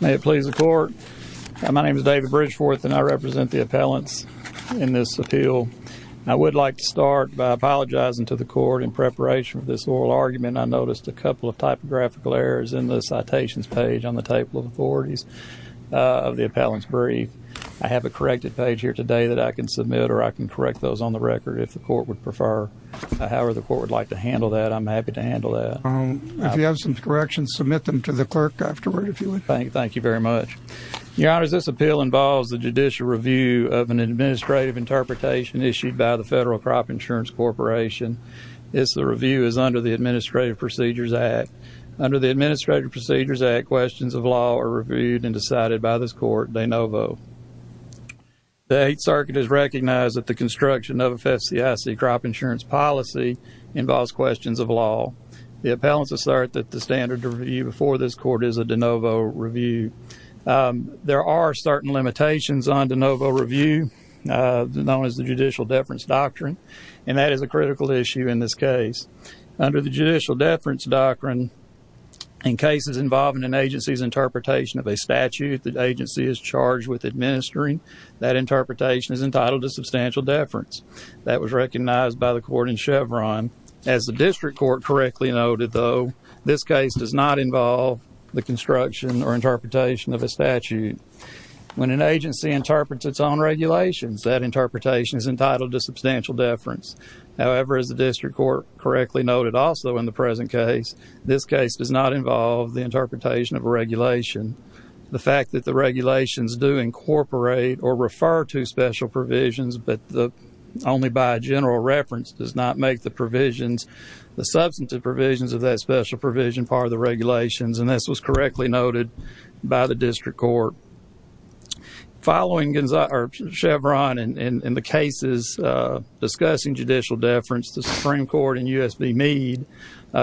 May it please the court. My name is David Bridgeforth and I represent the appellants in this appeal. I would like to start by apologizing to the court in preparation for this oral argument. I noticed a couple of typographical errors in the citations page on the table of authorities of the appellant's brief. I have a corrected page here today that I can submit or I can correct those on the record if the court would prefer. However the court would like to handle that, I'm happy to handle that. If you have some corrections, submit them to the clerk afterward if you would. Thank you very much. Your Honor, this appeal involves the judicial review of an administrative interpretation issued by the Federal Crop Insurance Corporation. This review is under the Administrative Procedures Act. Under the Administrative Procedures Act, questions of law are reviewed and decided by this court de novo. The Eighth Circuit has recognized that the construction of a FSCIC crop insurance policy involves questions of law. The appellants assert that the standard review before this court is a de novo review. There are certain limitations on de novo review, known as the Judicial Deference Doctrine, and that is a critical issue in this case. Under the Judicial Deference Doctrine, in cases involving an agency's interpretation of a statute the agency is charged with administering, that interpretation is entitled to substantial deference. That was recognized by the court in Chevron. As the District Court correctly noted, though, this case does not involve the construction or interpretation of a statute. When an agency interprets its own regulations, that interpretation is entitled to substantial deference. However, as the District Court correctly noted also in the present case, this case does not involve the interpretation of a regulation. The fact that the regulations do incorporate or refer to special provisions, but only by general reference, does not make the provisions, the substantive provisions of that special provision part of the regulations, and this was correctly noted by the District Court. Following Chevron and the cases discussing judicial deference, the Supreme Court and U.S. v. Meade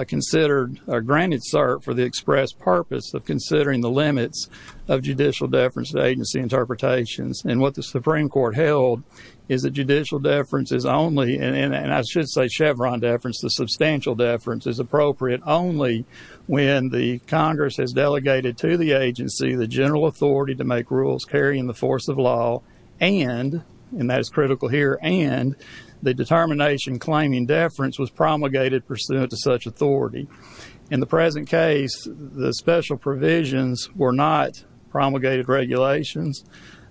considered, or granted cert for the express purpose of considering the limits of judicial deference to agency interpretations, and what the Supreme Court held is that judicial deference is only, and I should say Chevron deference, the substantial deference is appropriate only when the Congress has delegated to the agency the general authority to make rules carrying the force of law and, and that is critical here, and the determination claiming deference was promulgated pursuant to such authority. In the present case, the special provisions were not promulgated regulations.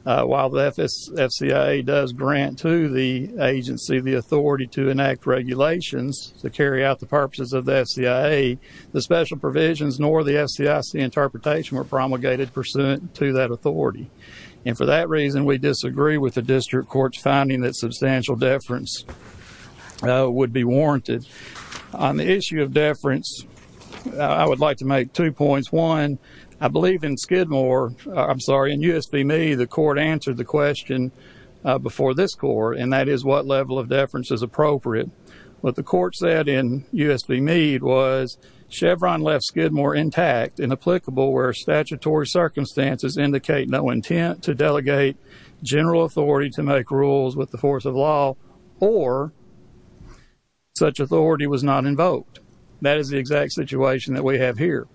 While the FCIA does grant to the agency the authority to enact regulations to carry out the purposes of the FCIA, the special provisions nor the FCIA interpretation were promulgated pursuant to that authority, and for that reason, we disagree with the District Court's finding that substantial deference would be warranted. On the issue of deference, I would like to make two points. One, I believe in Skidmore, I'm sorry, in U.S. v. Meade, the court answered the question before this court, and that is what level of deference is appropriate. What the court said in U.S. v. Meade was Chevron left Skidmore intact, inapplicable where statutory circumstances indicate no intent to delegate general authority to make rules with the force of law, or such authority was not invoked. That is the exact situation that we have here.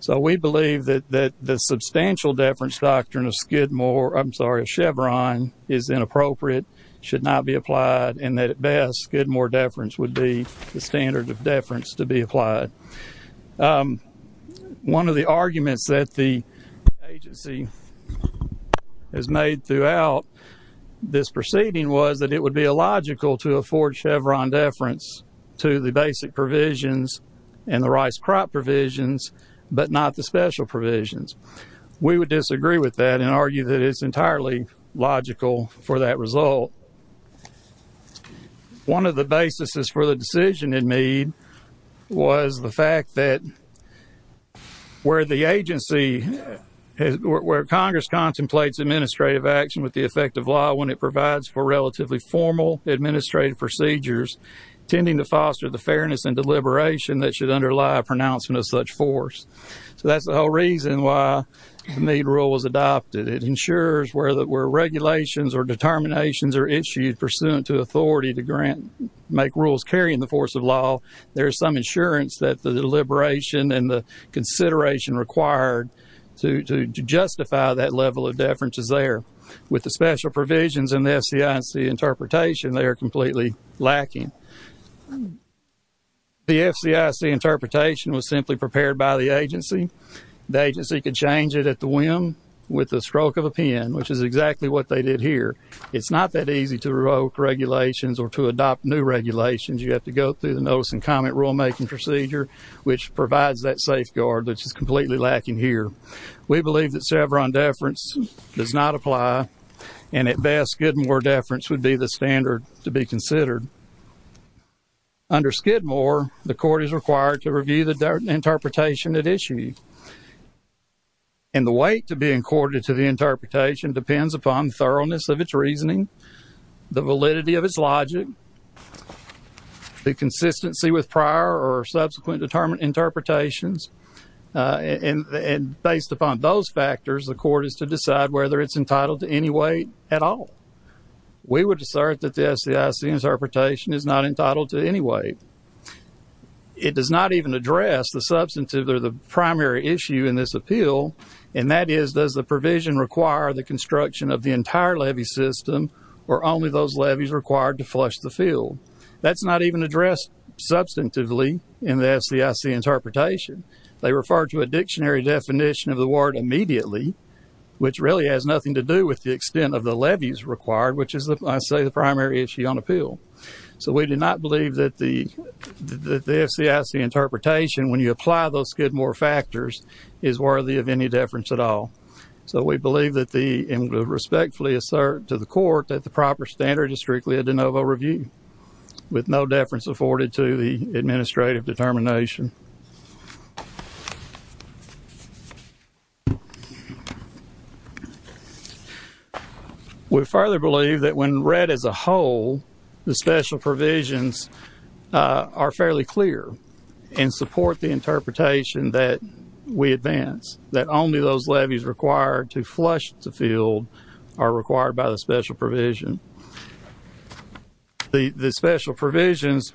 So we believe that the substantial deference doctrine of Skidmore, I'm sorry, of Chevron is inappropriate, should not be applied, and that at best, Skidmore deference would be the standard of deference to be applied. One of the arguments that the agency has made throughout this proceeding was that it would be illogical to afford Chevron deference to the basic provisions and the rice crop provisions, but not the special provisions. We would disagree with that and argue that it's entirely logical for that result. One of the basis for the decision in Meade was the fact that where the agency, where Congress contemplates administrative action with the effect of law when it provides for relatively formal administrative procedures, intending to foster the fairness and deliberation that should underlie a pronouncement of such force. So that's the whole reason why the Meade rule was adopted. It ensures where regulations or determinations are issued pursuant to authority to grant, make rules carrying the force of law, there's some insurance that the deliberation and the consideration required to justify that level of deference is there. With the special provisions and the FCIC interpretation, they are completely lacking. The FCIC interpretation was simply prepared by the agency. The agency could change it at the whim with the stroke of a pen, which is exactly what they did here. It's not that easy to revoke regulations or to adopt new regulations. You have to go through the notice and comment rulemaking procedure, which provides that safeguard, which is completely lacking here. We believe that Chevron deference does not apply, and at best, Skidmore deference would be the standard to be considered. Under Skidmore, the court is required to review the interpretation at issue. And the weight to be accorded to the interpretation depends upon thoroughness of its reasoning, the validity of its logic, the consistency with prior or subsequent determined interpretations. And based upon those factors, the court is to decide whether it's entitled to any weight at all. We would assert that the FCIC interpretation is not entitled to any weight. It does not even address the substantive or the primary issue in this appeal, and that is, does the provision require the construction of the entire levy system or only those levies required to flush the field? That's not even addressed substantively in the FCIC interpretation. They refer to a dictionary definition of the word immediately, which really has nothing to do with the extent of the levies required, which is, I say, the primary issue on appeal. So we do not believe that the FCIC interpretation, when you apply those Skidmore factors, is worthy of any deference at all. So we believe that the, and respectfully assert to the court, that the proper standard is strictly a de novo review, with no deference afforded to the administrative determination. We further believe that when read as a whole, the special provisions are fairly clear and support the interpretation that we advance, that only those levies required to flush the field are required by the special provision. The special provisions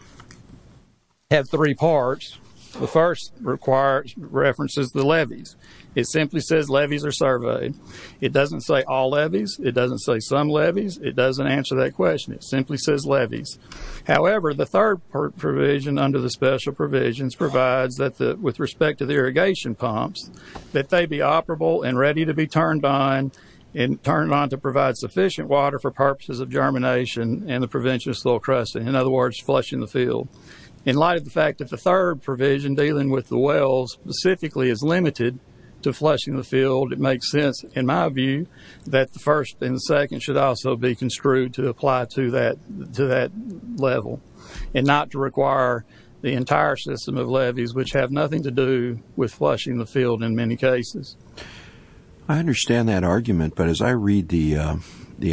have three parts. The first references the levies. It simply says levies are surveyed. It doesn't say all levies. It doesn't say some levies. It doesn't answer that question. It simply says levies. However, the third provision under the special provisions provides that, with respect to the irrigation pumps, that they be operable and ready to be turned on and turned on to provide sufficient water for purposes of germination and the prevention of soil crusting. In other words, flushing the field. In light of the fact that the third provision, dealing with the wells, specifically is limited to flushing the field, it makes sense, in my view, that the first and the second should also be construed to apply to that level and not to require the entire system of levies, which have nothing to do with flushing the field in many cases. I understand that argument, but as I read the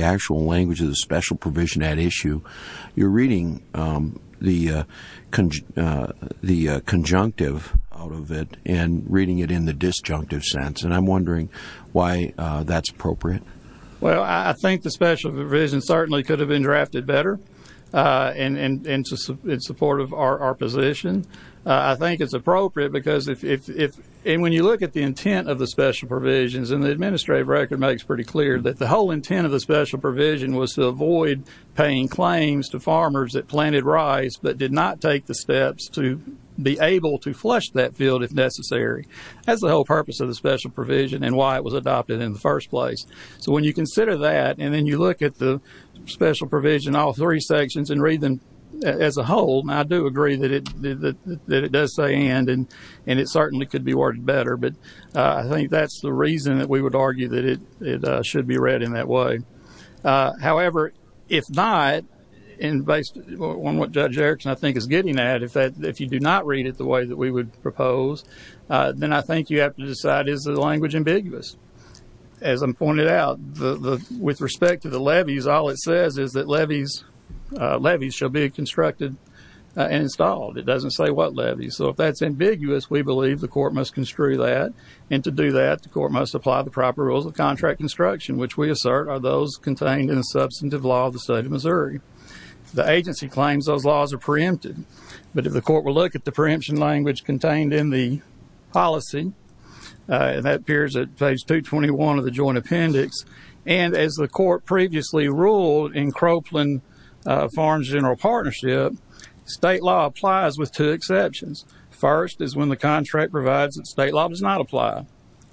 actual language of the special provision at issue, you're reading the conjunctive out of it and reading it in the disjunctive sense, and I'm wondering why that's appropriate. Well, I think the special provision certainly could have been drafted better in support of our position. I think it's appropriate because if, and when you look at the intent of the special provisions, and the administrative record makes pretty clear that the whole intent of the special provision was to avoid paying claims to farmers that planted rice but did not take the steps to be able to flush that field if necessary. That's the whole purpose of the special provision and why it was adopted in the first place. So when you consider that and then you look at the special provision, all three sections, and read them as a whole, and I do agree that it does say and, and it certainly could be worded better, but I think that's the reason that we would argue that it should be read in that way. However, if not, and based on what Judge Erickson, I think, is getting at, if you do not read it the way that we would propose, then I think you have to decide, is the language ambiguous? As I pointed out, with respect to the levies, all it says is that levies, levies shall be constructed and installed. It doesn't say what levies, so if that's ambiguous, we believe the court must construe that, and to do that, the court must apply the proper rules of contract construction, which we assert are those contained in the substantive law of the state of Missouri. The agency claims those laws are preempted, but if the court will look at the preemption language contained in the policy, and that appears at page 221 of the joint appendix, and as the court previously ruled in Croakland Farms General Partnership, state law applies with two exceptions. First is when the contract provides that state law does not apply.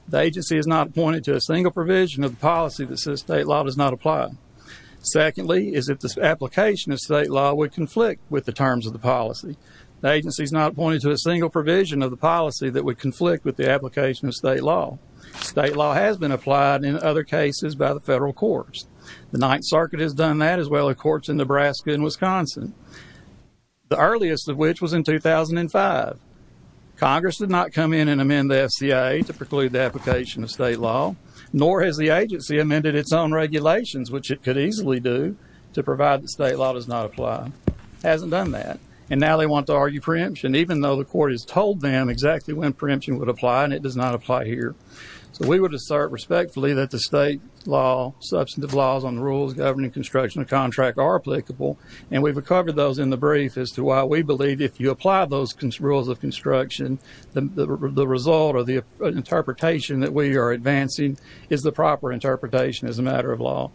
The agency is not appointed to a single provision of the policy that says state law does not apply. Secondly is if the application of state law would conflict with the terms of the policy. The agency is not appointed to a single provision of the policy that would conflict with the application of state law. State law has been applied in other cases by the federal courts. The Ninth Circuit has done that, as well as courts in Nebraska and Wisconsin, the earliest of which was in 2005. Congress did not come in and amend the FCA to preclude the application of state law, nor has the agency amended its own regulations, which it could easily do, to provide that state law does not apply. It hasn't done that, and now they want to argue preemption, even though the court has told them exactly when preemption would apply, and it does not apply here. So we would assert respectfully that the state law, substantive laws on the rules governing construction of contract are applicable, and we've covered those in the brief as to why we believe if you apply those rules of construction, the result or the interpretation that we are advancing is the proper interpretation as a matter of law.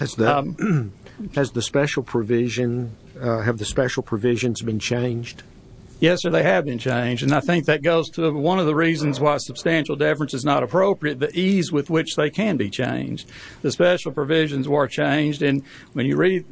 Has the special provision, have the special provisions been changed? Yes, sir, they have been changed, and I think that goes to one of the reasons why substantial deference is not appropriate, the ease with which they can be changed. The special provisions were changed, and when you read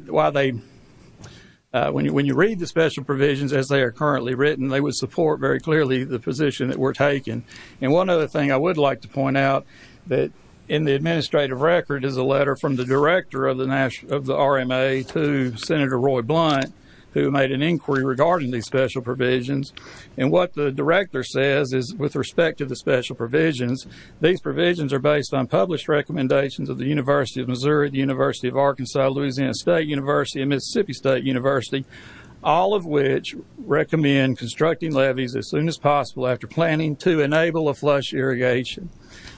the special provisions as they are currently written, they would support very clearly the position that we're taking. And one other thing I would like to point out, that in the administrative record is a letter from the director of the RMA to Senator Roy Blunt, who made an inquiry regarding these special provisions, and what the director says is with respect to the special provisions, these provisions are based on published recommendations of the University of Missouri, the University of Arkansas, Louisiana State University, and Mississippi State University, all of which recommend constructing levees as soon as possible after planning to enable a flush irrigation.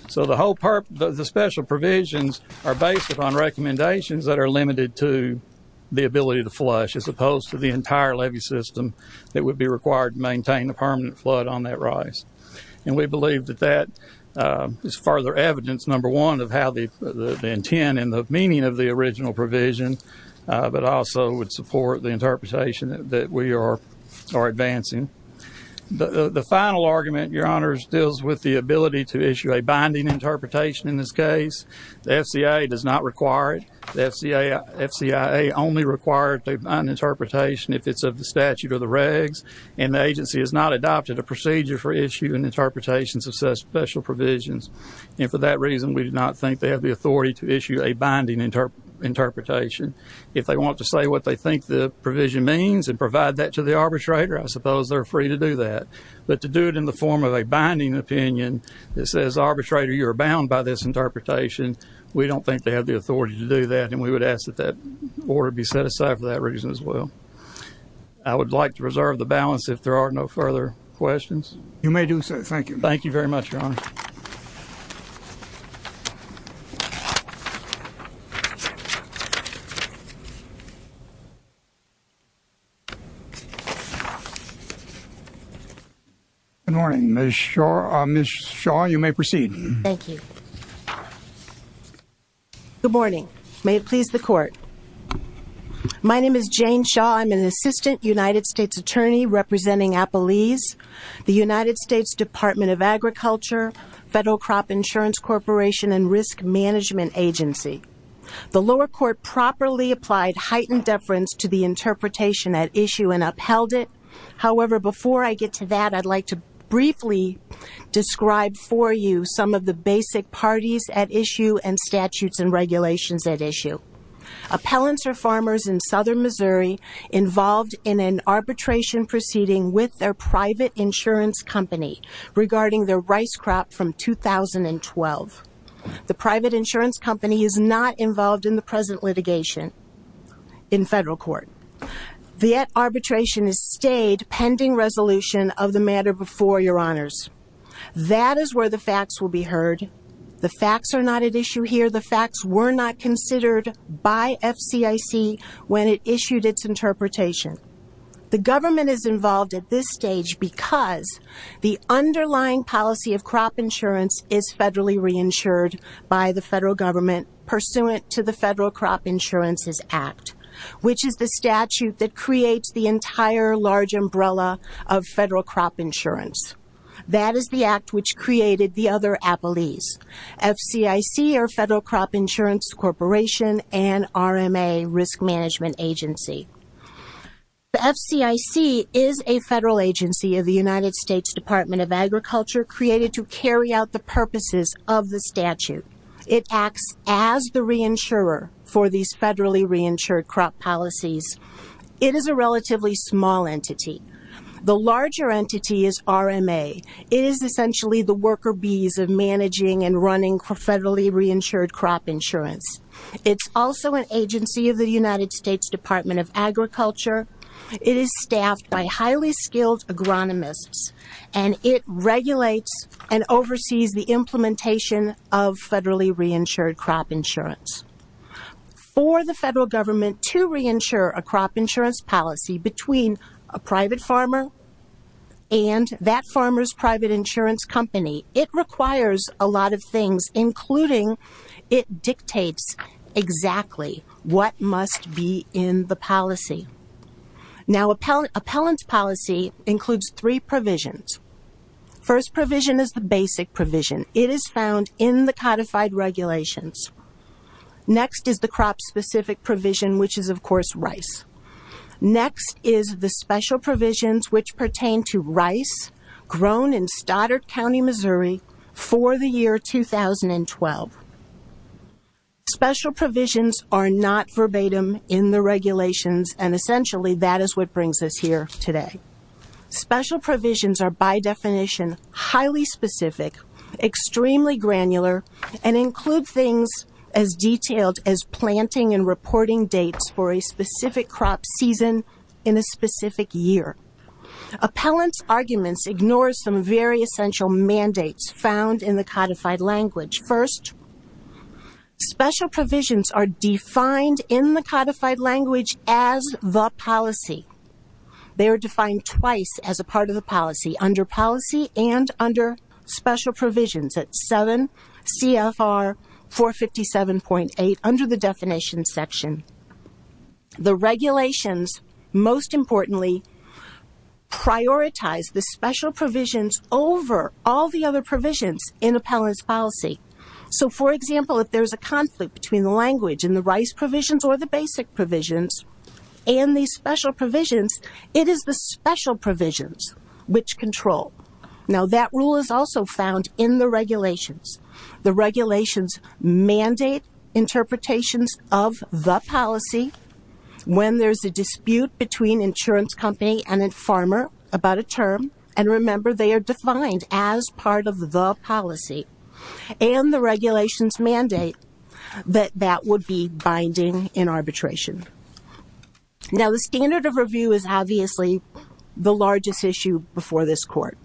So the special provisions are based upon recommendations that are limited to the ability to flush, as opposed to the entire levee system that would be required to maintain the permanent flood on that rise. And we believe that that is further evidence, number one, of how the intent and the meaning of the original provision, but also would support the interpretation that we are advancing. The final argument, Your Honors, deals with the ability to issue a binding interpretation in this case. The FCA does not require it. The FCIA only requires an interpretation if it's of the statute or the regs, and the agency has not adopted a procedure for issuing interpretations of such special provisions. And for that reason, we do not think they have the authority to issue a binding interpretation. If they want to say what they think the provision means and provide that to the arbitrator, I suppose they're free to do that. But to do it in the form of a binding opinion that says, Arbitrator, you are bound by this interpretation, we don't think they have the authority to do that, and we would ask that that order be set aside for that reason as well. I would like to reserve the balance if there are no further questions. You may do so. Thank you. Thank you very much, Your Honor. Good morning. Ms. Shaw, you may proceed. Thank you. Good morning. May it please the Court. My name is Jane Shaw. I'm an assistant United States attorney representing APALYS, the United States Department of Agriculture, Federal Crop Insurance Corporation, and Risk Management Agency. The lower court properly applied heightened deference to the interpretation at issue and upheld it. However, before I get to that, I'd like to briefly describe for you some of the basic parties at issue and statutes and regulations at issue. Appellants are farmers in southern Missouri involved in an arbitration proceeding with their private insurance company regarding their rice crop from 2012. The private insurance company is not involved in the present litigation in federal court. The arbitration is stayed pending resolution of the matter before Your Honors. That is where the facts will be heard. The facts are not at issue here. The facts were not considered by FCIC when it issued its interpretation. The government is involved at this stage because the underlying policy of crop insurance is federally reinsured by the federal government pursuant to the Federal Crop Insurance Act, which is the statute that creates the entire large umbrella of federal crop insurance. That is the act which created the other appellees. FCIC, or Federal Crop Insurance Corporation, and RMA, Risk Management Agency. The FCIC is a federal agency of the United States Department of Agriculture created to carry out the purposes of the statute. It acts as the reinsurer for these federally reinsured crop policies. It is a relatively small entity. The larger entity is RMA. It is essentially the worker bees of managing and running federally reinsured crop insurance. It's also an agency of the United States Department of Agriculture. It is staffed by highly skilled agronomists, and it regulates and oversees the implementation of federally reinsured crop insurance. For the federal government to reinsure a crop insurance policy between a private farmer and that farmer's private insurance company, it requires a lot of things, including it dictates exactly what must be in the policy. Now, appellant policy includes three provisions. First provision is the basic provision. It is found in the codified regulations. Next is the crop-specific provision, which is, of course, rice. Next is the special provisions which pertain to rice grown in Stoddard County, Missouri for the year 2012. Special provisions are not verbatim in the regulations, and essentially that is what brings us here today. Special provisions are by definition highly specific, extremely granular, and include things as detailed as planting and reporting dates for a specific crop season in a specific year. Appellant's arguments ignore some very essential mandates found in the codified language. First, special provisions are defined in the codified language as the policy. They are defined twice as a part of the policy, under policy and under special provisions, at 7 CFR 457.8 under the definitions section. The regulations, most importantly, prioritize the special provisions over all the other provisions in appellant's policy. So, for example, if there's a conflict between the language and the rice provisions or the basic provisions and these special provisions, it is the special provisions which control. Now, that rule is also found in the regulations. The regulations mandate interpretations of the policy. When there's a dispute between insurance company and a farmer about a term, and remember they are defined as part of the policy, and the regulations mandate that that would be binding in arbitration. Now, the standard of review is obviously the largest issue before this court.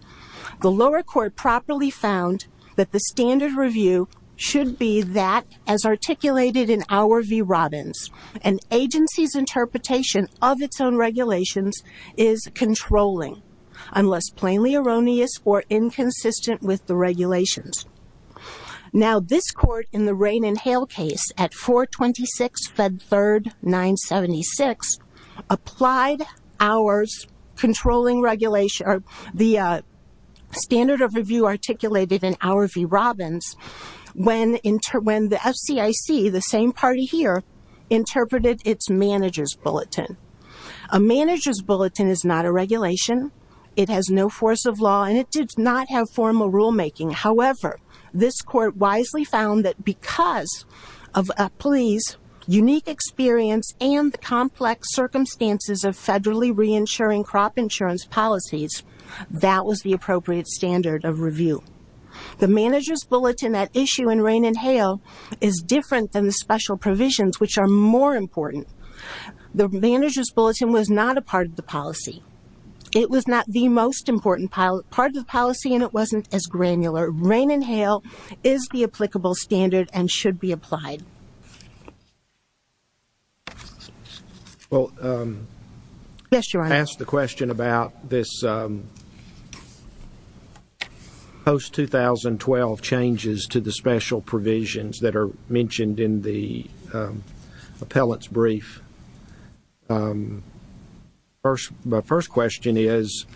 The lower court properly found that the standard review should be that as articulated in our v. Robbins. An agency's interpretation of its own regulations is controlling, unless plainly erroneous or inconsistent with the regulations. Now, this court in the Rain and Hail case at 426 Fed 3rd 976, applied ours controlling regulation, the standard of review articulated in our v. Robbins, when the FCIC, the same party here, interpreted its manager's bulletin. A manager's bulletin is not a regulation. It has no force of law and it did not have formal rulemaking. However, this court wisely found that because of a police unique experience and the complex circumstances of federally reinsuring crop insurance policies, that was the appropriate standard of review. The manager's bulletin at issue in Rain and Hail is different than the special provisions, which are more important. The manager's bulletin was not a part of the policy. It was not the most important part of the policy and it wasn't as granular. Rain and Hail is the applicable standard and should be applied. Well, I asked the question about this post-2012 changes to the special provisions that are mentioned in the appellant's brief. My first question is,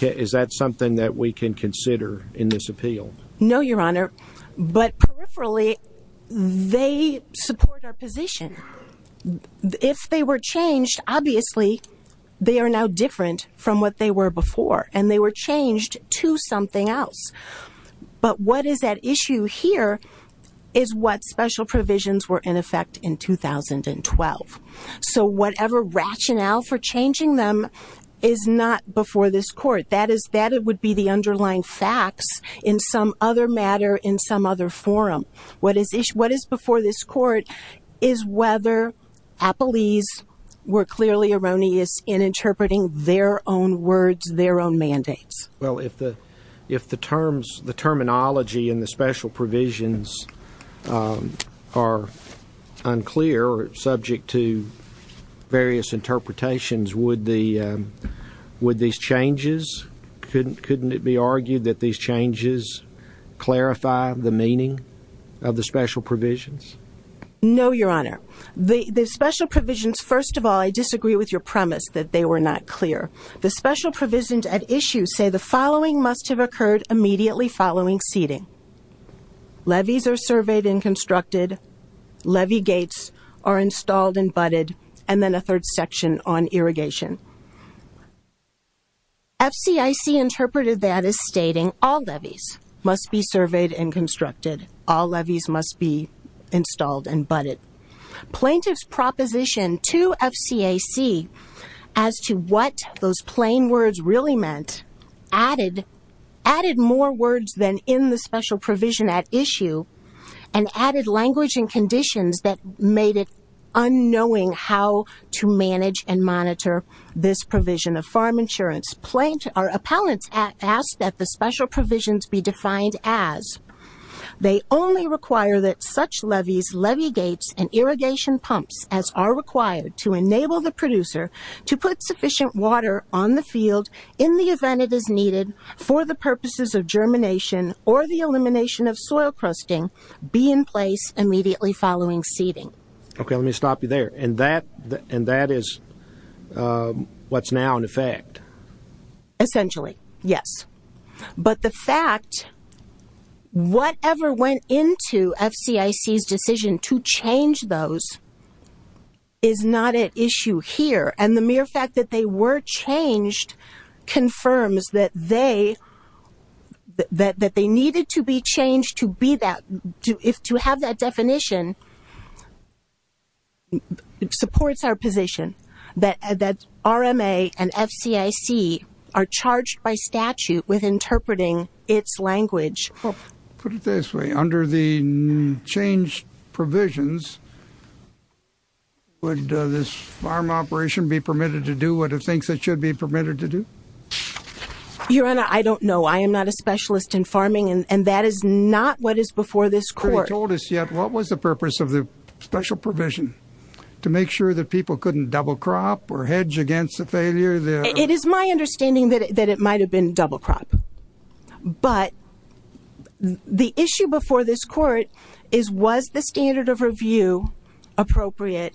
is that something that we can consider in this appeal? No, Your Honor, but peripherally they support our position. If they were changed, obviously they are now different from what they were before and they were changed to something else. But what is at issue here is what special provisions were in effect in 2012. So whatever rationale for changing them is not before this court. That would be the underlying facts in some other matter in some other forum. What is before this court is whether appellees were clearly erroneous in interpreting their own words, their own mandates. Well, if the terminology in the special provisions are unclear or subject to various interpretations, would these changes, couldn't it be argued that these changes clarify the meaning of the special provisions? No, Your Honor. The special provisions, first of all, I disagree with your premise that they were not clear. The special provisions at issue say the following must have occurred immediately following seating. Levees are surveyed and constructed. Levee gates are installed and butted. And then a third section on irrigation. FCIC interpreted that as stating all levees must be surveyed and constructed. All levees must be installed and butted. Plaintiff's proposition to FCIC as to what those plain words really meant added more words than in the special provision at issue and added language and conditions that made it unknowing how to manage and monitor this provision of farm insurance. Appellants ask that the special provisions be defined as They only require that such levees, levee gates, and irrigation pumps as are required to enable the producer to put sufficient water on the field in the event it is needed for the purposes of germination or the elimination of soil crusting be in place immediately following seating. Okay, let me stop you there. And that is what's now in effect. Essentially, yes. But the fact whatever went into FCIC's decision to change those is not at issue here. And the mere fact that they were changed confirms that they needed to be changed to have that definition supports our position that RMA and FCIC are charged by statute with interpreting its language. Put it this way. Under the changed provisions, would this farm operation be permitted to do what it thinks it should be permitted to do? Your Honor, I don't know. I am not a specialist in farming, and that is not what is before this court. You haven't told us yet what was the purpose of the special provision to make sure that people couldn't double crop or hedge against the failure? It is my understanding that it might have been double crop. But the issue before this court is was the standard of review appropriate?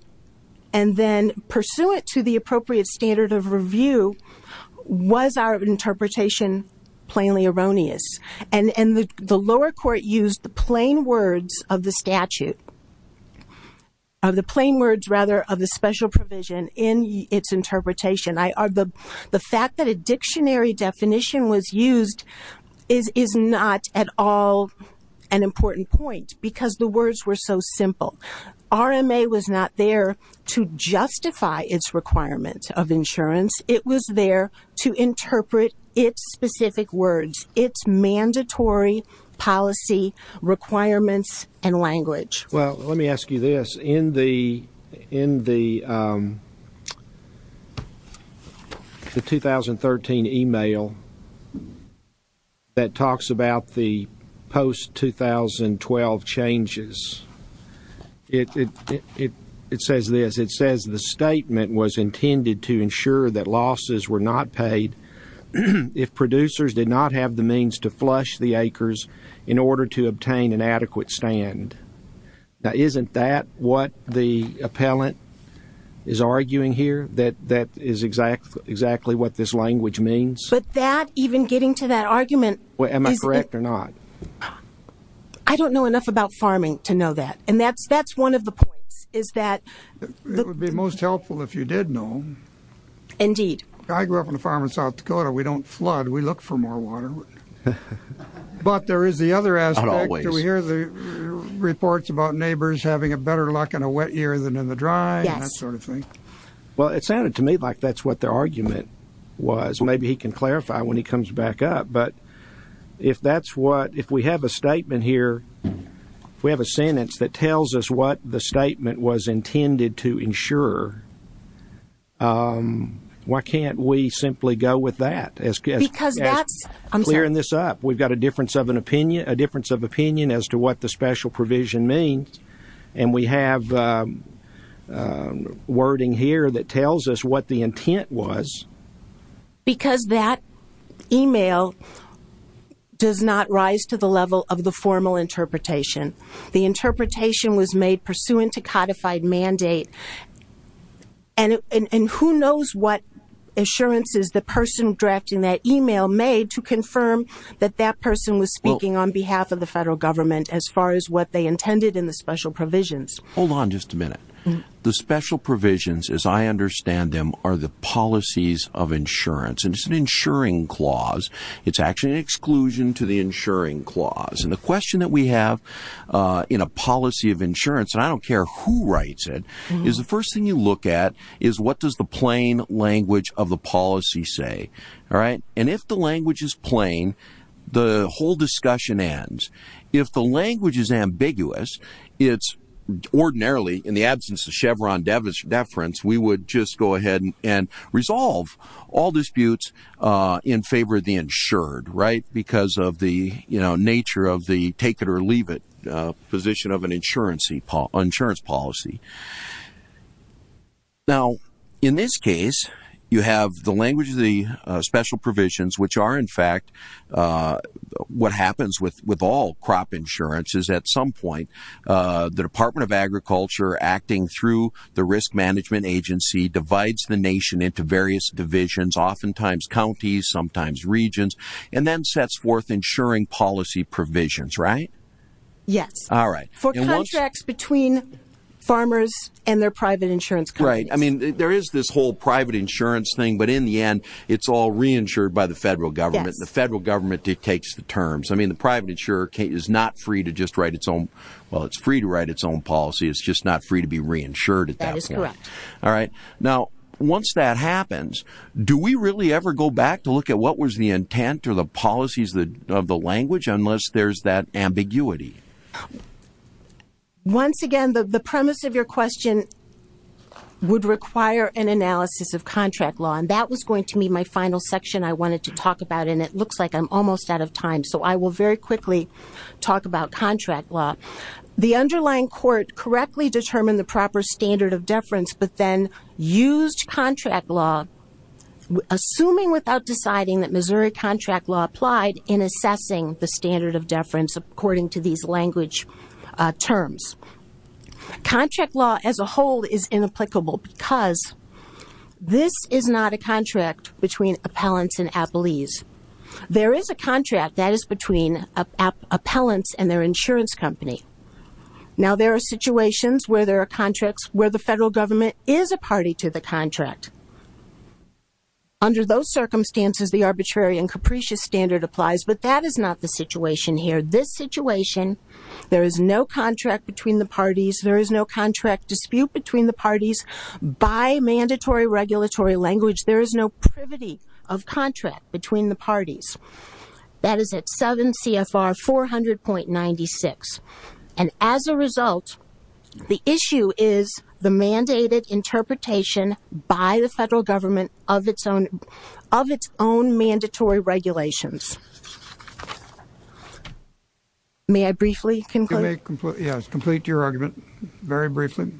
And then pursuant to the appropriate standard of review, was our interpretation plainly erroneous? And the lower court used the plain words of the statute, of the plain words, rather, of the special provision in its interpretation. The fact that a dictionary definition was used is not at all an important point because the words were so simple. RMA was not there to justify its requirement of insurance. It was there to interpret its specific words, its mandatory policy requirements and language. Well, let me ask you this. In the 2013 email that talks about the post-2012 changes, it says this. It says the statement was intended to ensure that losses were not paid if producers did not have the means to flush the acres in order to obtain an adequate stand. Now, isn't that what the appellant is arguing here, that that is exactly what this language means? But that, even getting to that argument. Am I correct or not? I don't know enough about farming to know that. And that's one of the points, is that. It would be most helpful if you did know. Indeed. I grew up on a farm in South Dakota. We don't flood. We look for more water. But there is the other aspect. Not always. Do we hear the reports about neighbors having a better luck in a wet year than in the dry and that sort of thing? Yes. Well, it sounded to me like that's what the argument was. Maybe he can clarify when he comes back up. But if we have a statement here, if we have a sentence that tells us what the statement was intended to ensure, why can't we simply go with that as clearing this up? We've got a difference of opinion as to what the special provision means. And we have wording here that tells us what the intent was. Because that email does not rise to the level of the formal interpretation. The interpretation was made pursuant to codified mandate. And who knows what assurances the person drafting that email made to confirm that that person was speaking on behalf of the federal government as far as what they intended in the special provisions. Hold on just a minute. The special provisions, as I understand them, are the policies of insurance. And it's an insuring clause. It's actually an exclusion to the insuring clause. And the question that we have in a policy of insurance, and I don't care who writes it, is the first thing you look at is what does the plain language of the policy say. And if the language is plain, the whole discussion ends. If the language is ambiguous, it's ordinarily, in the absence of Chevron deference, we would just go ahead and resolve all disputes in favor of the insured because of the nature of the take-it-or-leave-it position of an insurance policy. Now, in this case, you have the language of the special provisions, which are in fact what happens with all crop insurances at some point. The Department of Agriculture acting through the Risk Management Agency divides the nation into various divisions, oftentimes counties, sometimes regions. And then sets forth insuring policy provisions, right? Yes. All right. For contracts between farmers and their private insurance companies. Right. I mean, there is this whole private insurance thing, but in the end, it's all reinsured by the federal government. The federal government takes the terms. I mean, the private insurer is not free to just write its own policy. It's just not free to be reinsured at that point. That is correct. All right. Now, once that happens, do we really ever go back to look at what was the intent or the policies of the language unless there's that ambiguity? Once again, the premise of your question would require an analysis of contract law, and that was going to be my final section I wanted to talk about, and it looks like I'm almost out of time, so I will very quickly talk about contract law. The underlying court correctly determined the proper standard of deference but then used contract law, assuming without deciding that Missouri contract law applied, in assessing the standard of deference according to these language terms. Contract law as a whole is inapplicable because this is not a contract between appellants and appellees. There is a contract that is between appellants and their insurance company. Now, there are situations where there are contracts where the federal government is a party to the contract. Under those circumstances, the arbitrary and capricious standard applies, but that is not the situation here. This situation, there is no contract between the parties. There is no contract dispute between the parties. By mandatory regulatory language, there is no privity of contract between the parties. That is at 7 CFR 400.96. And as a result, the issue is the mandated interpretation by the federal government of its own mandatory regulations. May I briefly conclude? Yes, complete your argument very briefly.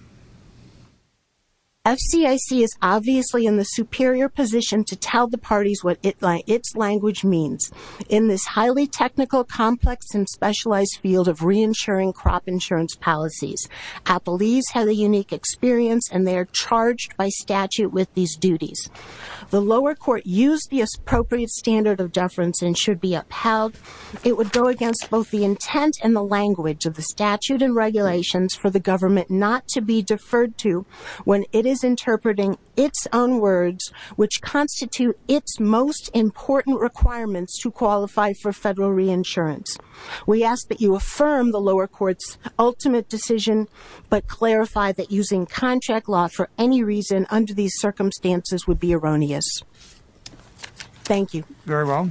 FCIC is obviously in the superior position to tell the parties what its language means. In this highly technical, complex, and specialized field of reinsuring crop insurance policies, appellees have a unique experience and they are charged by statute with these duties. The lower court used the appropriate standard of deference and should be upheld. It would go against both the intent and the language of the statute and regulations for the government not to be deferred to when it is interpreting its own words, which constitute its most important requirements to qualify for federal reinsurance. We ask that you affirm the lower court's ultimate decision but clarify that using contract law for any reason under these circumstances would be erroneous. Thank you. Very well.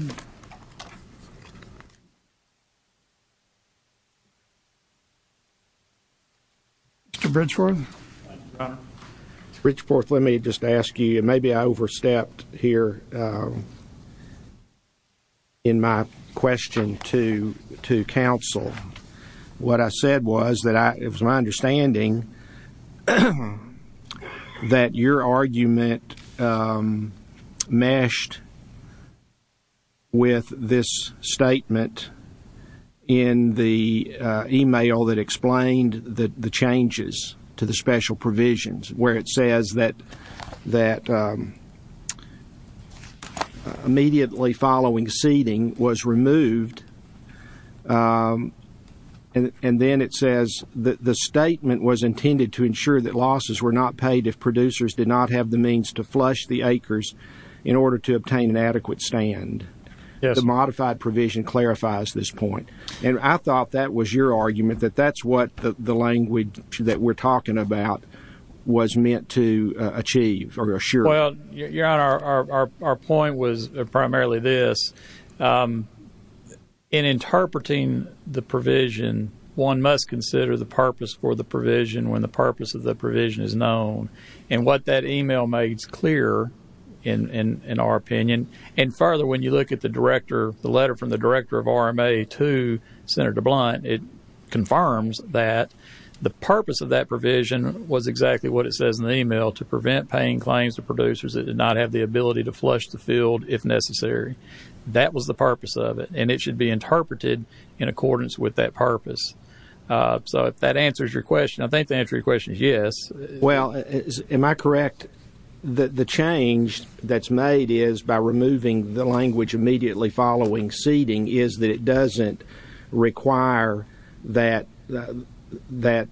Mr. Bridgeforth? Mr. Bridgeforth, let me just ask you, and maybe I overstepped here in my question to counsel. What I said was that it was my understanding that your argument meshed with this statement in the email that explained the changes to the special provisions where it says that immediately following seeding was removed and then it says the statement was intended to ensure that losses were not paid if producers did not have the means to flush the acres in order to obtain an adequate stand. The modified provision clarifies this point, and I thought that was your argument, that that's what the language that we're talking about was meant to achieve or assure. Well, Your Honor, our point was primarily this. In interpreting the provision, one must consider the purpose for the provision when the purpose of the provision is known, and what that email made is clear in our opinion. And further, when you look at the letter from the director of RMA to Senator Blunt, it confirms that the purpose of that provision was exactly what it says in the email, to prevent paying claims to producers that did not have the ability to flush the field if necessary. That was the purpose of it, and it should be interpreted in accordance with that purpose. So if that answers your question, I think the answer to your question is yes. Well, am I correct that the change that's made is by removing the language immediately following seeding is that it doesn't require that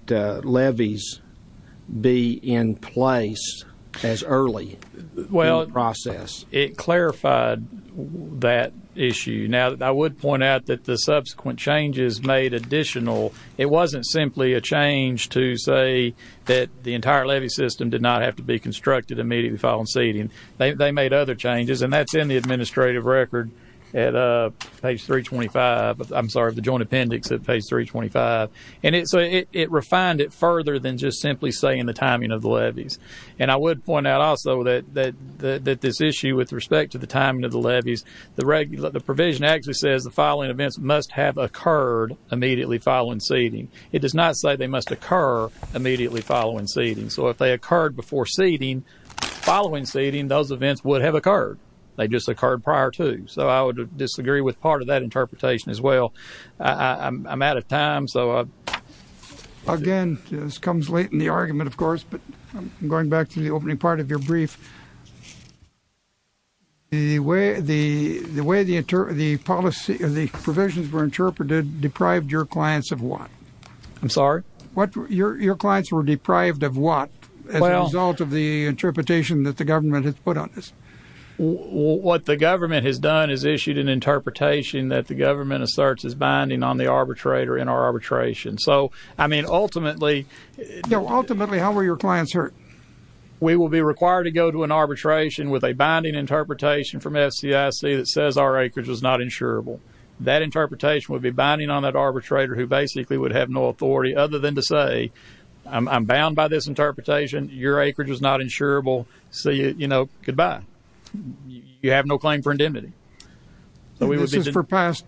levies be in place as early in the process? Well, it clarified that issue. Now, I would point out that the subsequent changes made additional. It wasn't simply a change to say that the entire levy system did not have to be constructed immediately following seeding. They made other changes, and that's in the administrative record at page 325. I'm sorry, the joint appendix at page 325. And so it refined it further than just simply saying the timing of the levies. And I would point out also that this issue with respect to the timing of the levies, the provision actually says the following events must have occurred immediately following seeding. It does not say they must occur immediately following seeding. So if they occurred before seeding, following seeding, those events would have occurred. They just occurred prior to. So I would disagree with part of that interpretation as well. I'm out of time. Again, this comes late in the argument, of course, but I'm going back to the opening part of your brief. The way the provisions were interpreted deprived your clients of what? I'm sorry? Your clients were deprived of what as a result of the interpretation that the government has put on this? What the government has done is issued an interpretation that the government asserts is binding on the arbitrator in our arbitration. So, I mean, ultimately. Ultimately, how were your clients hurt? We will be required to go to an arbitration with a binding interpretation from FCIC that says our acreage was not insurable. That interpretation would be binding on that arbitrator who basically would have no authority other than to say, I'm bound by this interpretation. Your acreage is not insurable. So, you know, goodbye. You have no claim for indemnity. This is for past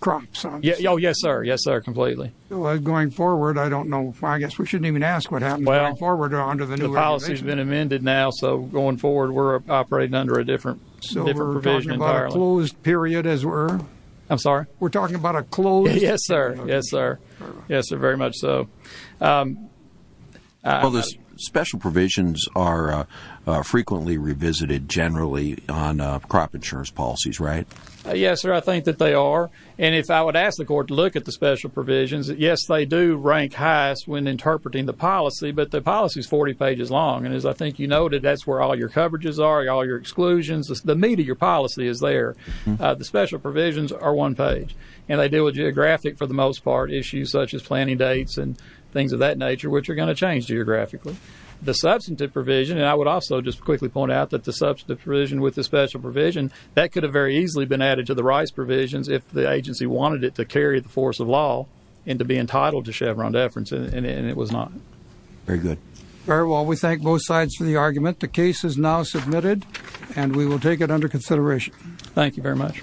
crops? Oh, yes, sir. Yes, sir, completely. Going forward, I don't know. I guess we shouldn't even ask what happened going forward under the new legislation. Well, the policy has been amended now, so going forward we're operating under a different provision entirely. So we're talking about a closed period as we're? I'm sorry? We're talking about a closed? Yes, sir. Yes, sir. Yes, sir, very much so. Well, the special provisions are frequently revisited generally on crop insurance policies, right? Yes, sir, I think that they are. And if I would ask the court to look at the special provisions, yes, they do rank highest when interpreting the policy, but the policy is 40 pages long. And as I think you noted, that's where all your coverages are, all your exclusions. The meat of your policy is there. The special provisions are one page, and they deal with geographic, for the most part, issues such as planning dates and things of that nature, which are going to change geographically. The substantive provision, and I would also just quickly point out that the substantive provision with the special provision, that could have very easily been added to the rights provisions if the agency wanted it to carry the force of law and to be entitled to Chevron deference, and it was not. Very good. All right, well, we thank both sides for the argument. The case is now submitted, and we will take it under consideration. Thank you very much.